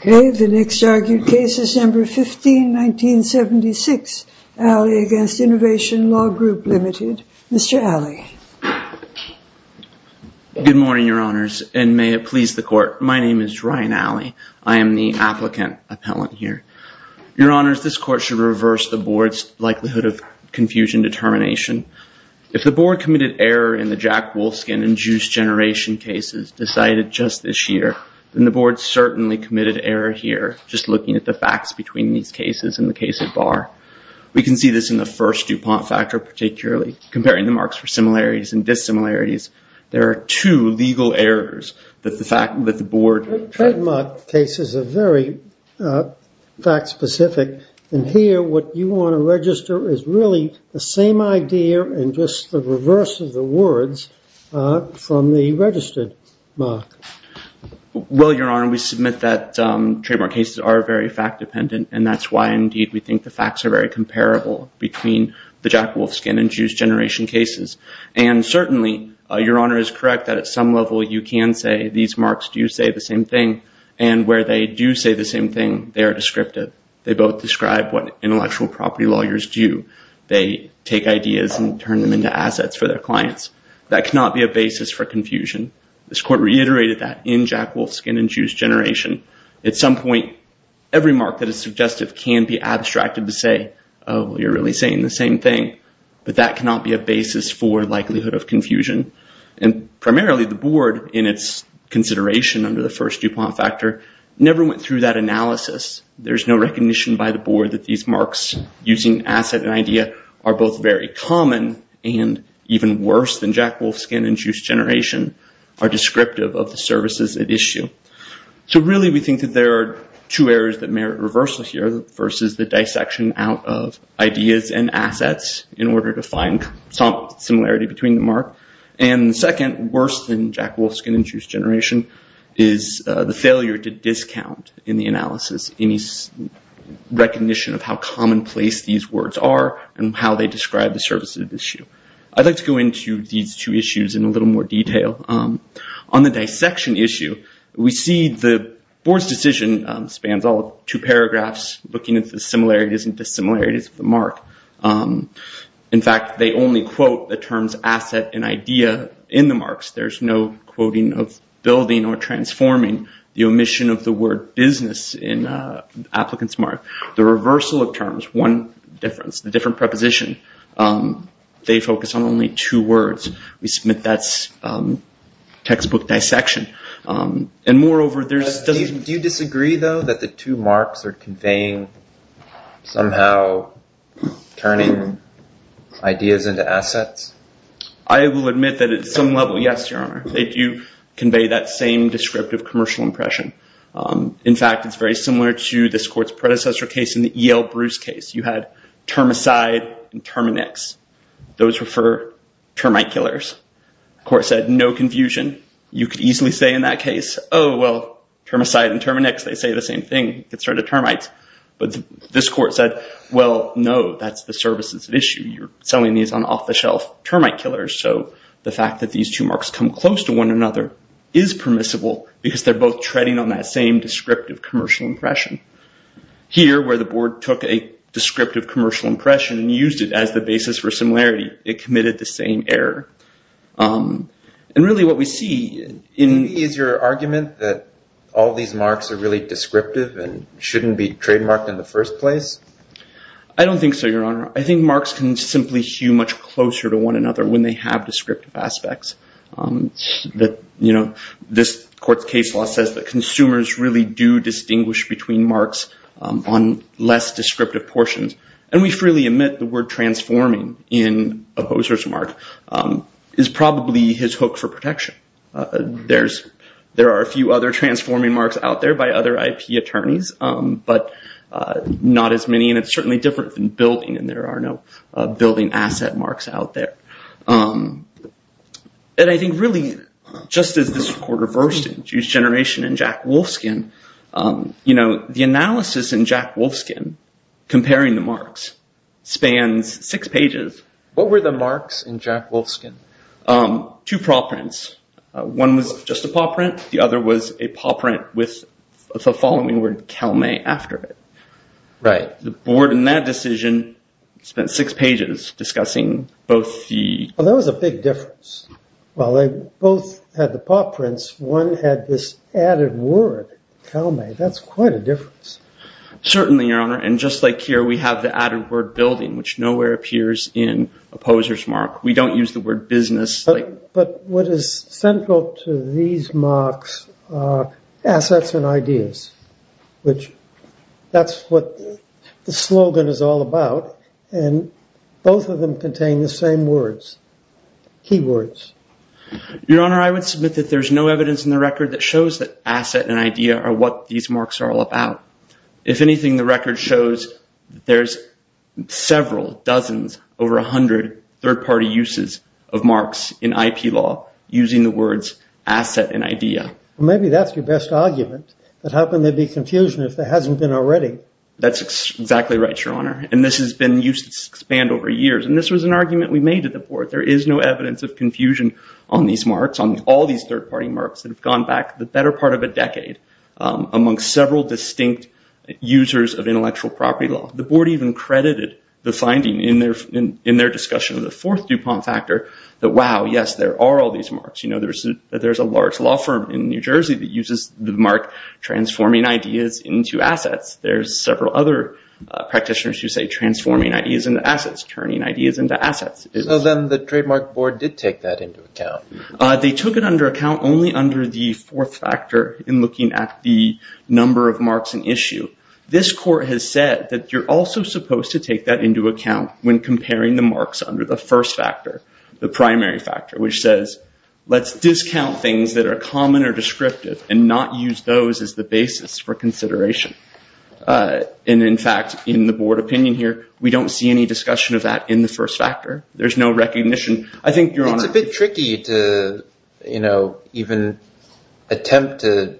Okay. The next argued case, December 15, 1976, Aley v. Innovation Law Group, Ltd. Mr. Aley. Good morning, your honors, and may it please the court. My name is Ryan Aley. I am the applicant appellant here. Your honors, this court should reverse the board's likelihood of confusion determination. If the board committed error in the Jack Wolfskin and Juice Generation cases decided just this year, then the board certainly committed error here, just looking at the facts between these cases and the case at bar. We can see this in the first DuPont factor particularly, comparing the marks for similarities and dissimilarities. There are two legal errors that the board- Trademark cases are very fact specific, and here what you want to register is really the reverse of the words from the registered mark. Well, your honor, we submit that trademark cases are very fact dependent, and that's why indeed we think the facts are very comparable between the Jack Wolfskin and Juice Generation cases. And certainly, your honor is correct that at some level you can say these marks do say the same thing, and where they do say the same thing, they are descriptive. They both describe what intellectual property lawyers do. They take ideas and turn them into assets for their clients. That cannot be a basis for confusion. This court reiterated that in Jack Wolfskin and Juice Generation. At some point, every mark that is suggestive can be abstracted to say, oh, you're really saying the same thing, but that cannot be a basis for likelihood of confusion. And primarily the board, in its consideration under the first DuPont factor, never went through that analysis. There's no recognition by the board that these marks using asset and idea are both very common and even worse than Jack Wolfskin and Juice Generation, are descriptive of the services at issue. So really, we think that there are two areas that merit reversal here, versus the dissection out of ideas and assets in order to find some similarity between the mark. And second, worse than Jack Wolfskin and Juice Generation, is the failure to discount in the analysis any recognition of how commonplace these words are and how they describe the services at issue. I'd like to go into these two issues in a little more detail. On the dissection issue, we see the board's decision spans all two paragraphs, looking at the similarities and dissimilarities of the mark. In fact, they only quote the terms asset and idea in the marks. There's no quoting of building or transforming the omission of the word business in an applicant's mark. The reversal of terms, one difference, the different preposition, they focus on only two words. We submit that's textbook dissection. And moreover, there's... Do you disagree, though, that the two marks are conveying somehow turning ideas into assets? I will admit that at some level, yes, Your Honor. They do convey that same descriptive commercial impression. In fact, it's very similar to this court's predecessor case in the Yale-Bruce case. You had termicide and terminex. Those were for termite killers. The court said, no confusion. You could easily say in that case, oh, well, termicide and terminex, they say the same thing. It's sort of termites. But this court said, well, no, that's the services at issue. You're selling these on off-the-shelf termite killers. So the fact that these two marks come close to one another is permissible because they're both treading on that same descriptive commercial impression. Here where the board took a descriptive commercial impression and used it as the basis for similarity, it committed the same error. And really what we see in... Is your argument that all these marks are really descriptive and shouldn't be trademarked in the first place? I don't think so, Your Honor. I think marks can simply hew much closer to one another when they have descriptive aspects. This court's case law says that consumers really do distinguish between marks on less descriptive portions. And we freely admit the word transforming in a poser's mark is probably his hook for protection. There are a few other transforming marks out there by other IP attorneys, but not as many. And it's certainly different than building, and there are no building asset marks out there. And I think really, just as this court reversed and used generation and Jack Wolfskin, the analysis in Jack Wolfskin comparing the marks spans six pages. What were the marks in Jack Wolfskin? Two paw prints. One was just a paw print. The other was a paw print with the following word, Calmay, after it. Right. The board, in that decision, spent six pages discussing both the... Well, there was a big difference. While they both had the paw prints, one had this added word, Calmay. That's quite a difference. Certainly, Your Honor. And just like here, we have the added word building, which nowhere appears in a poser's mark. We don't use the word business. But what is central to these marks are assets and ideas, which that's what the slogan is all about. And both of them contain the same words, key words. Your Honor, I would submit that there's no evidence in the record that shows that asset and idea are what these marks are all about. If anything, the record shows that there's several, dozens, over 100 third-party uses of marks in IP law using the words asset and idea. Maybe that's your best argument, that how can there be confusion if there hasn't been already? That's exactly right, Your Honor. And this has been used to expand over years. And this was an argument we made at the board. There is no evidence of confusion on these marks, on all these third-party marks that have gone back the better part of a decade among several distinct users of intellectual property law. The board even credited the finding in their discussion of the fourth DuPont factor that, wow, yes, there are all these marks. There's a large law firm in New Jersey that uses the mark transforming ideas into assets. There's several other practitioners who say transforming ideas into assets, turning ideas into assets. So then the trademark board did take that into account. They took it under account only under the fourth factor in looking at the number of marks in issue. This court has said that you're also supposed to take that into account when comparing the marks under the first factor, the primary factor, which says, let's discount things that are common or descriptive and not use those as the basis for consideration. And in fact, in the board opinion here, we don't see any discussion of that in the first factor. There's no recognition. I think, Your Honor. It's a bit tricky to even attempt to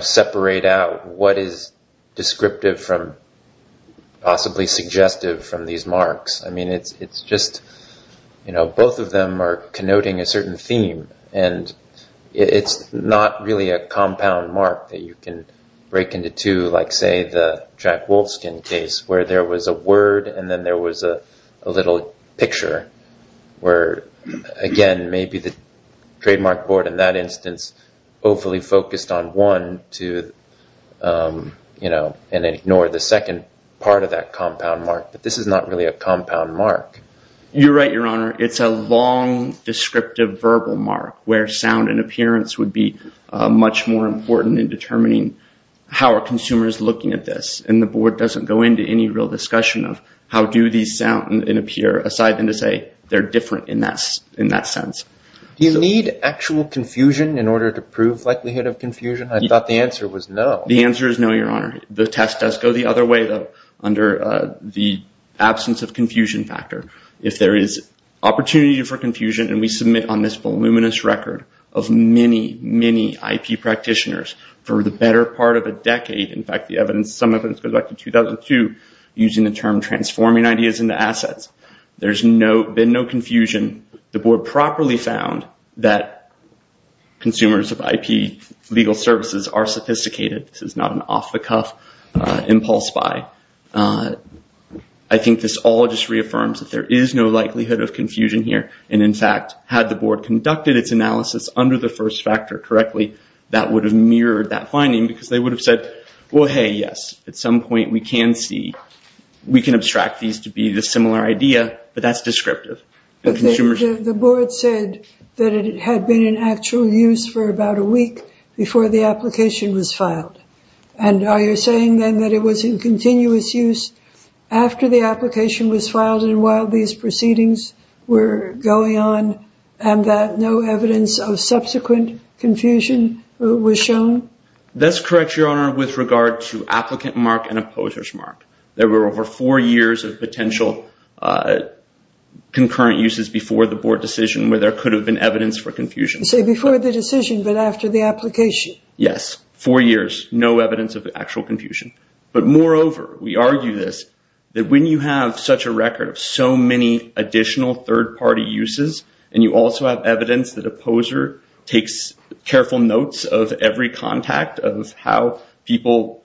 separate out what is descriptive from possibly suggestive from these marks. I mean, it's just both of them are connoting a certain theme and it's not really a compound mark that you can break into two, like say the Jack Wolfskin case where there was a word and then there was a little picture where, again, maybe the trademark board in that instance hopefully focused on one and ignored the second part of that compound mark. But this is not really a compound mark. You're right, Your Honor. It's a long descriptive verbal mark where sound and appearance would be much more important in determining how are consumers looking at this. And the board doesn't go into any real discussion of how do these sound and appear aside than to say they're different in that sense. Do you need actual confusion in order to prove likelihood of confusion? I thought the answer was no. The answer is no, Your Honor. The test does go the other way though under the absence of confusion factor. If there is opportunity for confusion and we submit on this voluminous record of many, many IP practitioners for the better part of a decade, in fact the evidence, some of it goes back to 2002, using the term transforming ideas into assets, there's been no confusion. The board properly found that consumers of IP legal services are sophisticated. This is not an off-the-cuff impulse buy. I think this all just reaffirms that there is no likelihood of confusion here and, in fact, had the board conducted its analysis under the first factor correctly, that would have mirrored that finding because they would have said, well, hey, yes, at some point we can see, we can abstract these to be the similar idea, but that's descriptive. The board said that it had been in actual use for about a week before the application was filed. And are you saying then that it was in continuous use after the application was filed and while these proceedings were going on and that no evidence of subsequent confusion was shown? That's correct, Your Honor, with regard to applicant mark and opposers mark. There were over four years of potential concurrent uses before the board decision where there could have been evidence for confusion. You say before the decision but after the application? Yes, four years, no evidence of actual confusion. But moreover, we argue this, that when you have such a record of so many additional third-party uses and you also have evidence that opposer takes careful notes of every contact of how people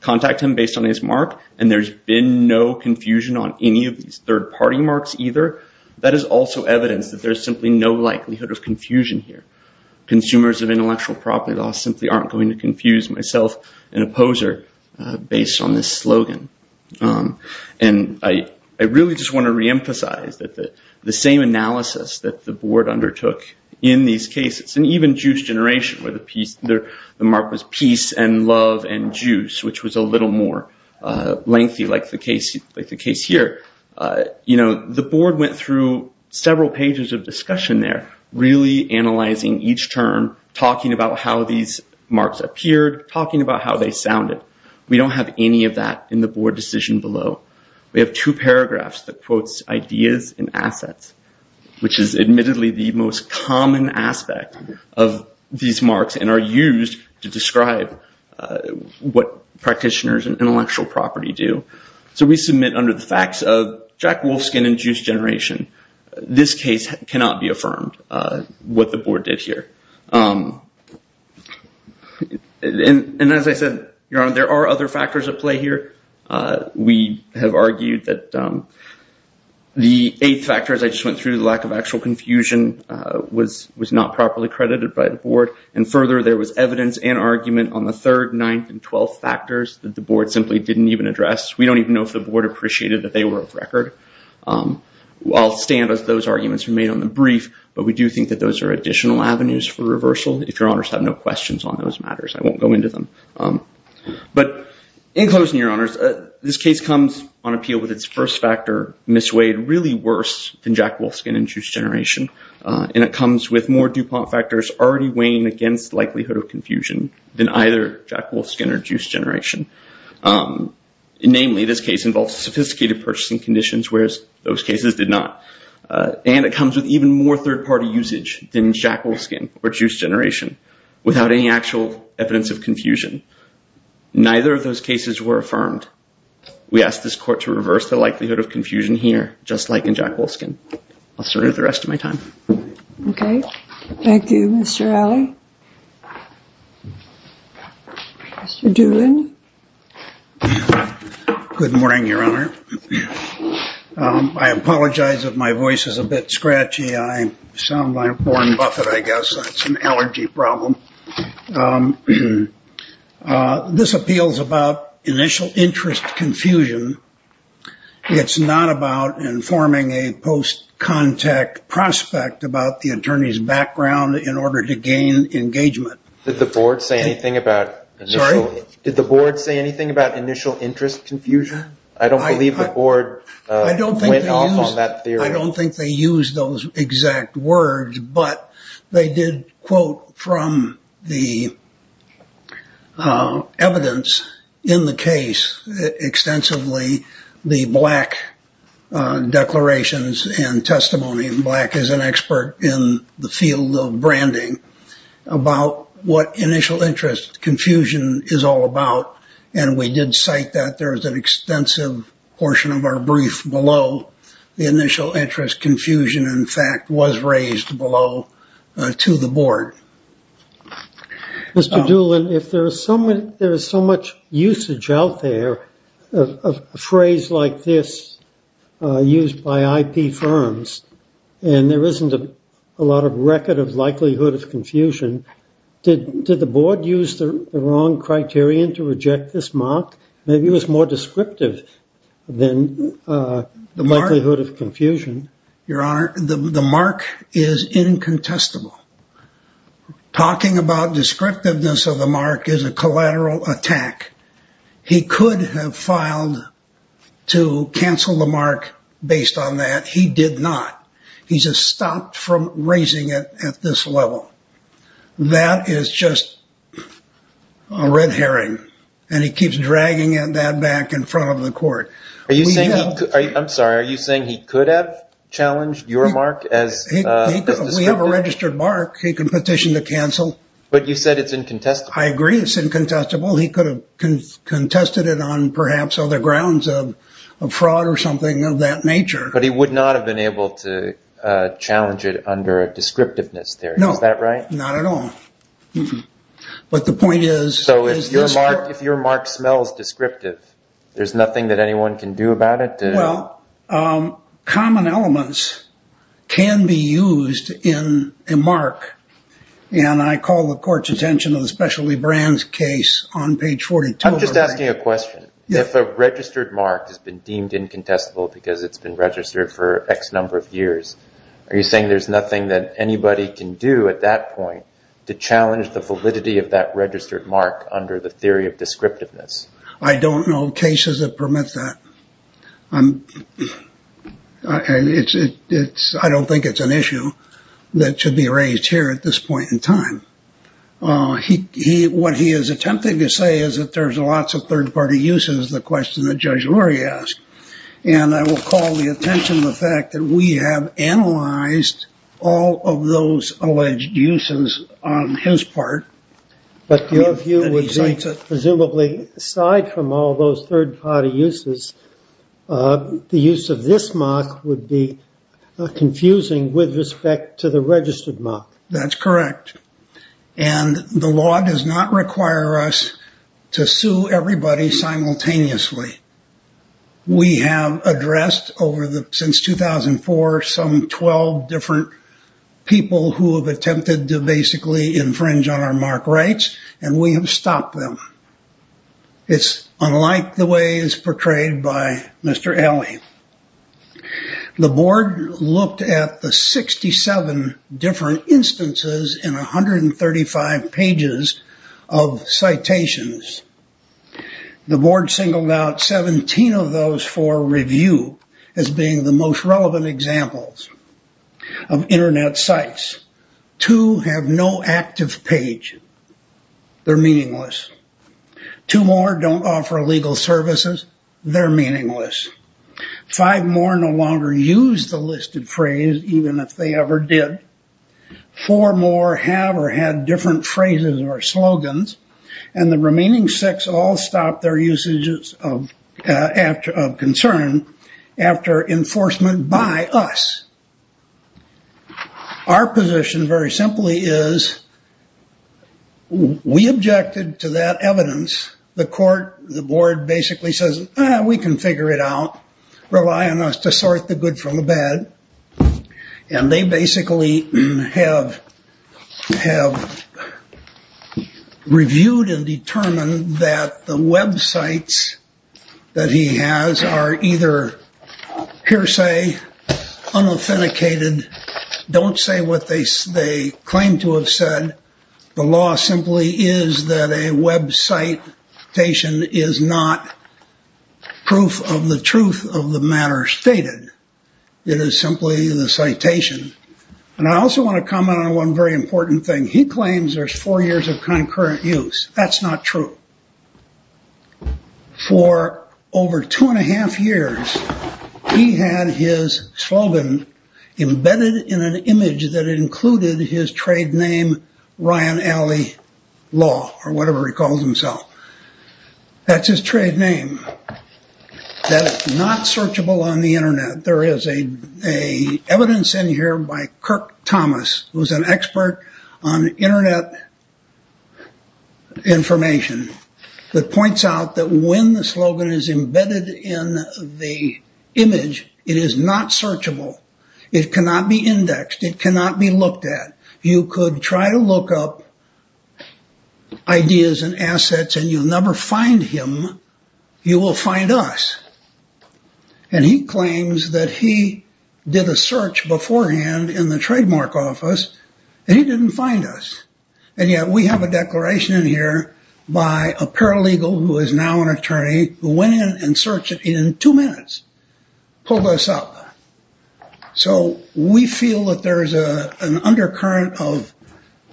contact him based on his mark and there's been no confusion on any of these third-party marks either, that is also evidence that there's simply no likelihood of confusion here. Consumers of intellectual property laws simply aren't going to confuse myself and an opposer based on this slogan. I really just want to reemphasize that the same analysis that the board undertook in these cases and even juice generation where the mark was peace and love and juice, which was a little more lengthy like the case here, the board went through several pages of discussion there, really analyzing each term, talking about how these marks appeared, talking about how they sounded. We don't have any of that in the board decision below. We have two paragraphs that quotes ideas and assets, which is admittedly the most common aspect of these marks and are used to describe what practitioners and intellectual property do. We submit under the facts of Jack Wolfskin and juice generation. This case cannot be affirmed, what the board did here. As I said, your honor, there are other factors at play here. We have argued that the eight factors I just went through, the lack of actual confusion was not properly credited by the board and further there was evidence and argument on the third, ninth, and twelfth factors that the board simply didn't even address. We don't even know if the board appreciated that they were of record. I'll stand as those arguments remain on the brief, but we do think that those are additional avenues for reversal. If your honors have no questions on those matters, I won't go into them. But in closing, your honors, this case comes on appeal with its first factor misweighed really worse than Jack Wolfskin and juice generation and it comes with more DuPont factors already weighing against likelihood of confusion than either Jack Wolfskin or juice generation. Namely, this case involves sophisticated purchasing conditions, whereas those cases did not. And it comes with even more third party usage than Jack Wolfskin or juice generation without any actual evidence of confusion. Neither of those cases were affirmed. We ask this court to reverse the likelihood of confusion here, just like in Jack Wolfskin. I'll serve the rest of my time. Okay. Thank you, Mr. Alley. Mr. Doolin. Good morning, your honor. I apologize if my voice is a bit scratchy. I sound like Warren Buffett, I guess. That's an allergy problem. This appeal is about initial interest confusion. It's not about informing a post contact prospect about the attorney's background in order to gain engagement. Did the board say anything about initial? Did the board say anything about initial interest confusion? I don't believe the board went off on that theory. I don't think they used those exact words, but they did quote from the evidence in the case extensively, the black declarations and testimony, and black is an expert in the field of branding, about what initial interest confusion is all about. We did cite that. There is an extensive portion of our brief below the initial interest confusion, in fact, was raised below to the board. Mr. Doolin, if there is so much usage out there, a phrase like this used by IP firms, and there isn't a lot of record of likelihood of confusion, did the board use the wrong criterion to reject this mark? Maybe it was more descriptive than likelihood of confusion. Your honor, the mark is incontestable. Talking about descriptiveness of the mark is a collateral attack. He could have filed to cancel the mark based on that. He did not. He just stopped from raising it at this level. That is just a red herring, and he keeps dragging that back in front of the court. I'm sorry. Are you saying he could have challenged your mark as descriptive? We have a registered mark. He can petition to cancel. But you said it's incontestable. I agree it's incontestable. He could have contested it on perhaps other grounds of fraud or something of that nature. But he would not have been able to challenge it under a descriptiveness theory, is that right? No. Not at all. But the point is... So if your mark smells descriptive, there's nothing that anyone can do about it? Well, common elements can be used in a mark, and I call the court's attention to the Specialty Brands case on page 42. I'm just asking a question. If a registered mark has been deemed incontestable because it's been registered for X number of years, are you saying there's nothing that anybody can do at that point to challenge the validity of that registered mark under the theory of descriptiveness? I don't know of cases that permit that. I don't think it's an issue that should be raised here at this point in time. What he is attempting to say is that there's lots of third-party uses, the question that Judge Lurie asked. And I will call the attention to the fact that we have analyzed all of those alleged uses on his part. But your view would be, presumably, aside from all those third-party uses, the use of this mark would be confusing with respect to the registered mark. That's correct. And the law does not require us to sue everybody simultaneously. We have addressed, since 2004, some 12 different people who have attempted to basically infringe on our mark rights, and we have stopped them. It's unlike the way it's portrayed by Mr. Alley. The board looked at the 67 different instances in 135 pages of citations. The board singled out 17 of those for review as being the most relevant examples of Internet sites. Two have no active page. They're meaningless. Two more don't offer legal services. They're meaningless. Five more no longer use the listed phrase, even if they ever did. Four more have or had different phrases or slogans. And the remaining six all stopped their usages of concern after enforcement by us. Our position, very simply, is we objected to that evidence. The court, the board basically says, we can figure it out. Rely on us to sort the good from the bad. And they basically have reviewed and determined that the websites that he has are either hearsay, unauthenticated, don't say what they claim to have said. The law simply is that a website citation is not proof of the truth of the matter stated. It is simply the citation. And I also want to comment on one very important thing. He claims there's four years of concurrent use. That's not true. For over two and a half years, he had his slogan embedded in an image that included his trade name, Ryan Alley Law, or whatever he calls himself. That's his trade name. That is not searchable on the internet. There is evidence in here by Kirk Thomas, who's an expert on internet information, that points out that when the slogan is embedded in the image, it is not searchable. It cannot be indexed. It cannot be looked at. You could try to look up ideas and assets, and you'll never find him. You will find us. And he claims that he did a search beforehand in the trademark office, and he didn't find us. And yet, we have a declaration in here by a paralegal, who is now an attorney, who went in and searched it in two minutes, pulled us up. So we feel that there is an undercurrent of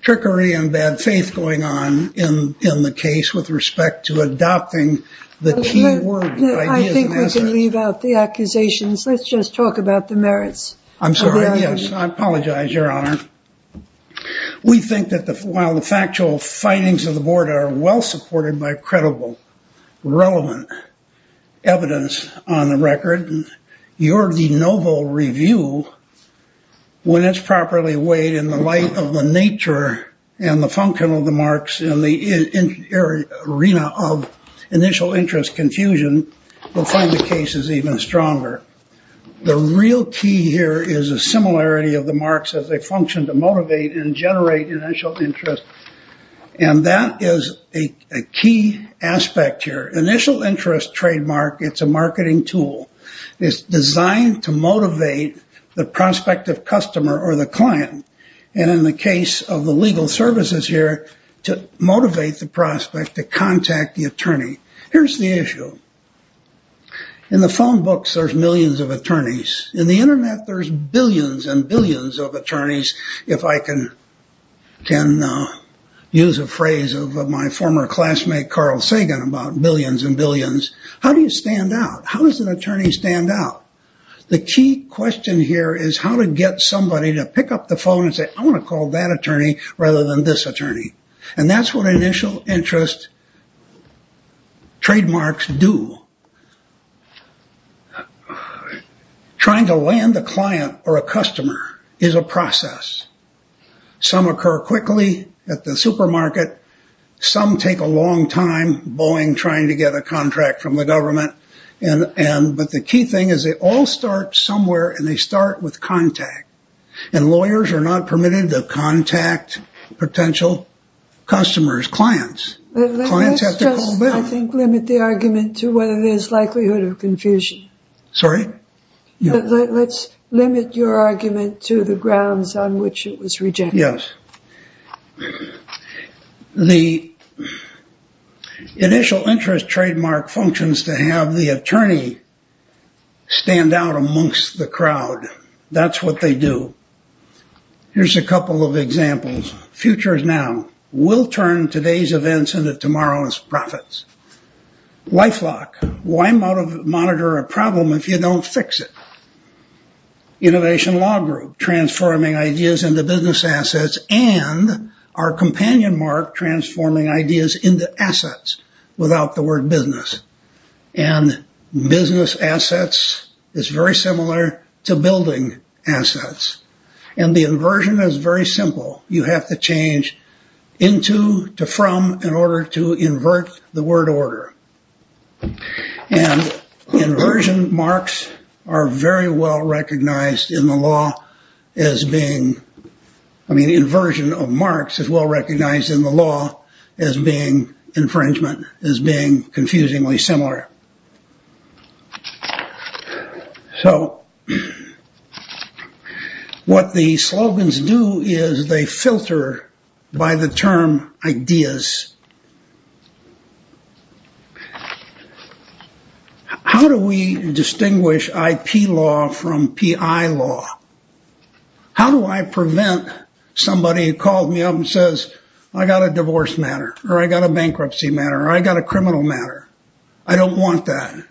trickery and bad faith going on in the case with respect to adopting the key word, ideas and assets. I think we can leave out the accusations. Let's just talk about the merits. I'm sorry, yes. I apologize, Your Honor. We think that while the factual findings of the board are well supported by credible, relevant evidence on the record, your de novo review, when it's properly weighed in the light of the nature and the function of the marks in the arena of initial interest confusion, will find the cases even stronger. The real key here is a similarity of the marks as a function to motivate and generate initial interest. And that is a key aspect here. The initial interest trademark, it's a marketing tool. It's designed to motivate the prospect of customer or the client. And in the case of the legal services here, to motivate the prospect to contact the attorney. Here's the issue. In the phone books, there's millions of attorneys. In the internet, there's billions and billions of attorneys. If I can use a phrase of my former classmate Carl Sagan about billions and billions, how do you stand out? How does an attorney stand out? The key question here is how to get somebody to pick up the phone and say, I want to call that attorney rather than this attorney. And that's what initial interest trademarks do. Trying to land a client or a customer is a process. Some occur quickly at the supermarket. Some take a long time, Boeing trying to get a contract from the government. But the key thing is they all start somewhere and they start with contact. And lawyers are not permitted to contact potential customers, clients. Clients have to call back. I think limit the argument to whether there's likelihood of confusion. Sorry? Let's limit your argument to the grounds on which it was rejected. Yes, the initial interest trademark functions to have the attorney stand out amongst the crowd. That's what they do. Here's a couple of examples. Futures Now will turn today's events into tomorrow's profits. LifeLock, why monitor a problem if you don't fix it? Innovation Law Group, transforming ideas into business assets. And our companion mark, transforming ideas into assets without the word business. And business assets is very similar to building assets. And the inversion is very simple. You have to change into to from in order to invert the word order. And inversion marks are very well recognized in the law as being, I mean, inversion of marks is well recognized in the law as being infringement, as being confusingly similar. So what the slogans do is they filter by the term ideas. How do we distinguish IP law from PI law? How do I prevent somebody who calls me up and says, I got a divorce matter, or I got a bankruptcy matter, or I got a criminal matter? I don't want that.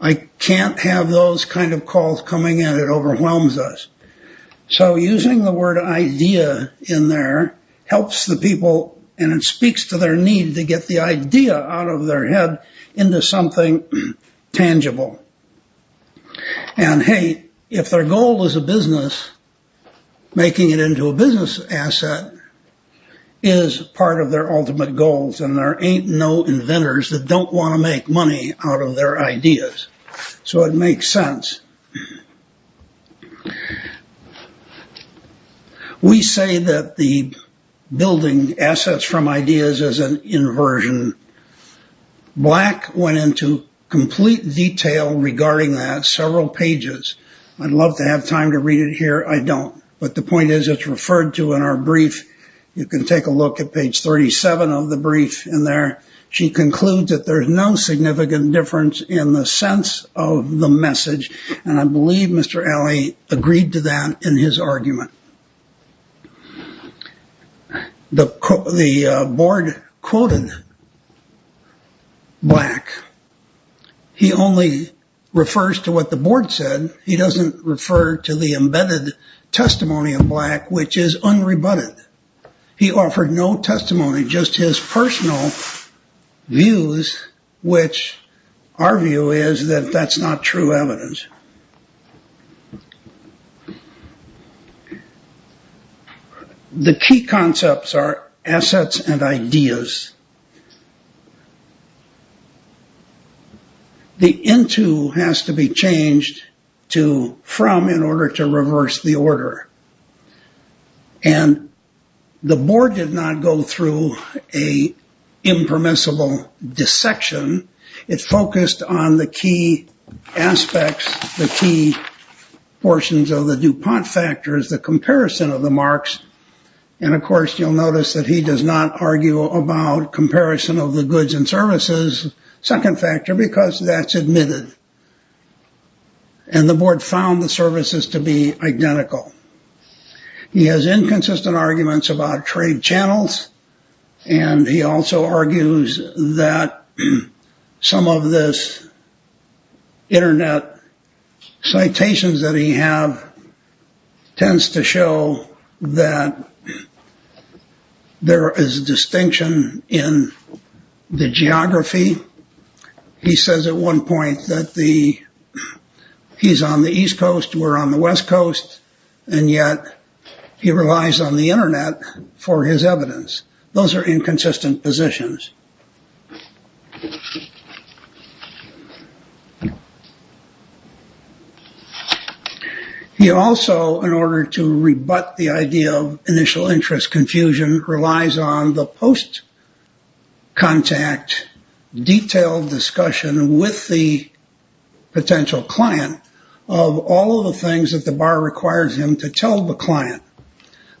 I can't have those kind of calls coming in. It overwhelms us. So using the word idea in there helps the people and it speaks to their need to get the idea out of their head into something tangible. And, hey, if their goal is a business, making it into a business asset is part of their ultimate goals. And there ain't no inventors that don't want to make money out of their ideas. So it makes sense. We say that the building assets from ideas is an inversion. Black went into complete detail regarding that, several pages. I'd love to have time to read it here. I don't. But the point is it's referred to in our brief. You can take a look at page 37 of the brief in there. She concludes that there's no significant difference in the sense of the message, and I believe Mr. Alley agreed to that in his argument. The board quoted Black. He only refers to what the board said. He doesn't refer to the embedded testimony of Black, which is unrebutted. He offered no testimony, just his personal views, which our view is that that's not true evidence. The key concepts are assets and ideas. The into has to be changed to from in order to reverse the order. And the board did not go through a impermissible dissection. It focused on the key aspects, the key portions of the DuPont factors, the comparison of the marks. And, of course, you'll notice that he does not argue about comparison of the goods and services, second factor, because that's admitted. And the board found the services to be identical. He has inconsistent arguments about trade channels, and he also argues that some of this Internet citations that he have tends to show that there is distinction in the geography. He says at one point that he's on the East Coast, we're on the West Coast, and yet he relies on the Internet for his evidence. Those are inconsistent positions. He also, in order to rebut the idea of initial interest confusion, relies on the post-contact detailed discussion with the potential client of all of the things that the bar requires him to tell the client.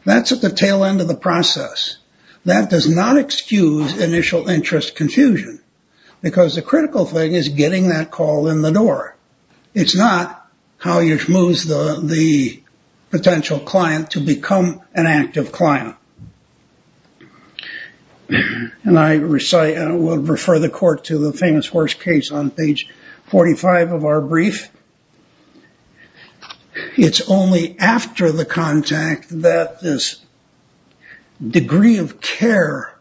That's at the tail end of the process. That does not excuse initial interest confusion, because the critical thing is getting that call in the door. It's not how he moves the potential client to become an active client. And I will refer the court to the famous horse case on page 45 of our brief. It's only after the contact that this degree of care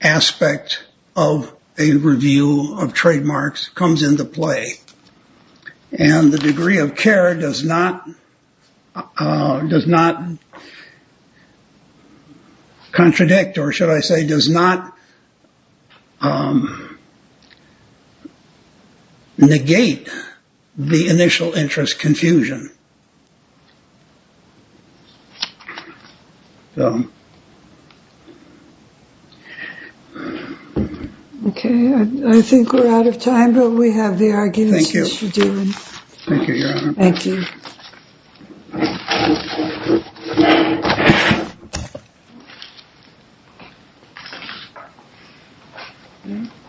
aspect of a review of trademarks comes into play and the degree of care does not does not contradict or should I say does not negate the initial interest confusion. Okay, I think we're out of time, but we have the arguments. Thank you. Thank you. Thank you.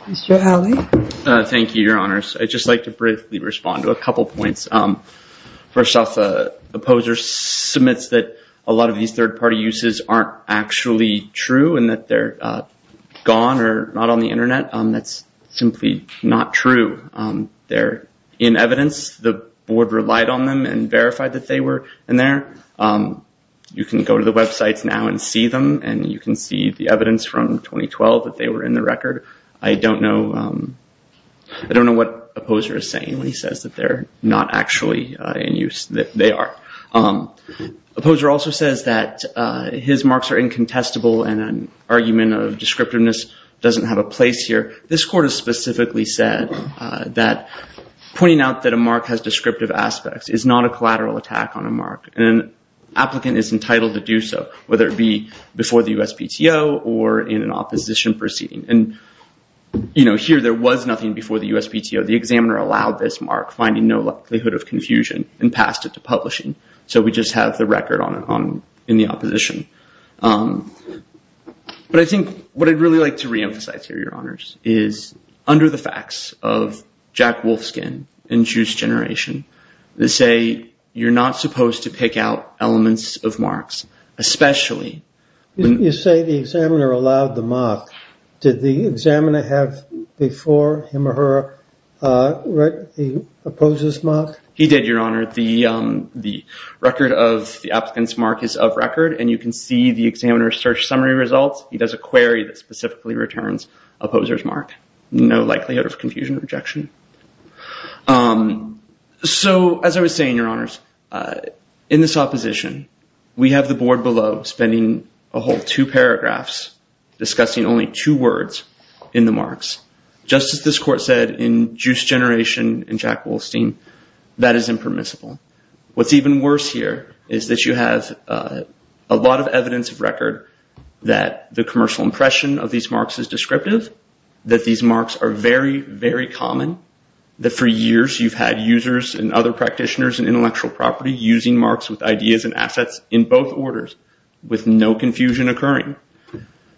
Mr. Alley. Thank you, Your Honors. I'd just like to briefly respond to a couple points. First off, the opposer submits that a lot of these third-party uses aren't actually true and that they're gone or not on the Internet. That's simply not true. They're in evidence. The board relied on them and verified that they were in there. You can go to the websites now and see them, and you can see the evidence from 2012 that they were in the record. I don't know what opposer is saying when he says that they're not actually in use. They are. Opposer also says that his marks are incontestable and an argument of descriptiveness doesn't have a place here. This court has specifically said that pointing out that a mark has descriptive aspects is not a collateral attack on a mark, and an applicant is entitled to do so, whether it be before the USPTO or in an opposition proceeding. Here, there was nothing before the USPTO. The examiner allowed this mark, finding no likelihood of confusion, and passed it to publishing. So we just have the record in the opposition. But I think what I'd really like to reemphasize here, Your Honors, is under the facts of Jack Wolfskin and Juice Generation, they say you're not supposed to pick out elements of marks, especially... Did the examiner have before him or her the opposer's mark? He did, Your Honor. The record of the applicant's mark is of record, and you can see the examiner's search summary results. He does a query that specifically returns opposer's mark. No likelihood of confusion or rejection. So, as I was saying, Your Honors, in this opposition, we have the board below spending a whole two paragraphs discussing only two words in the marks. Just as this court said in Juice Generation and Jack Wolfskin, that is impermissible. What's even worse here is that you have a lot of evidence of record that the commercial impression of these marks is descriptive, that these marks are very, very common, that for years you've had users and other practitioners in intellectual property using marks with ideas and assets in both orders with no confusion occurring.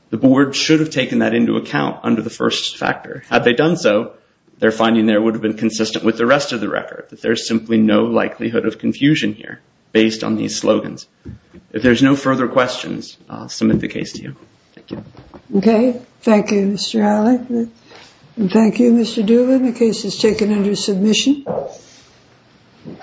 The board should have taken that into account under the first factor. Had they done so, their finding there would have been consistent with the rest of the record, that there's simply no likelihood of confusion here based on these slogans. If there's no further questions, I'll submit the case to you. Thank you. Okay. Thank you, Mr. Alley. And thank you, Mr. Doolin. The case is taken under submission.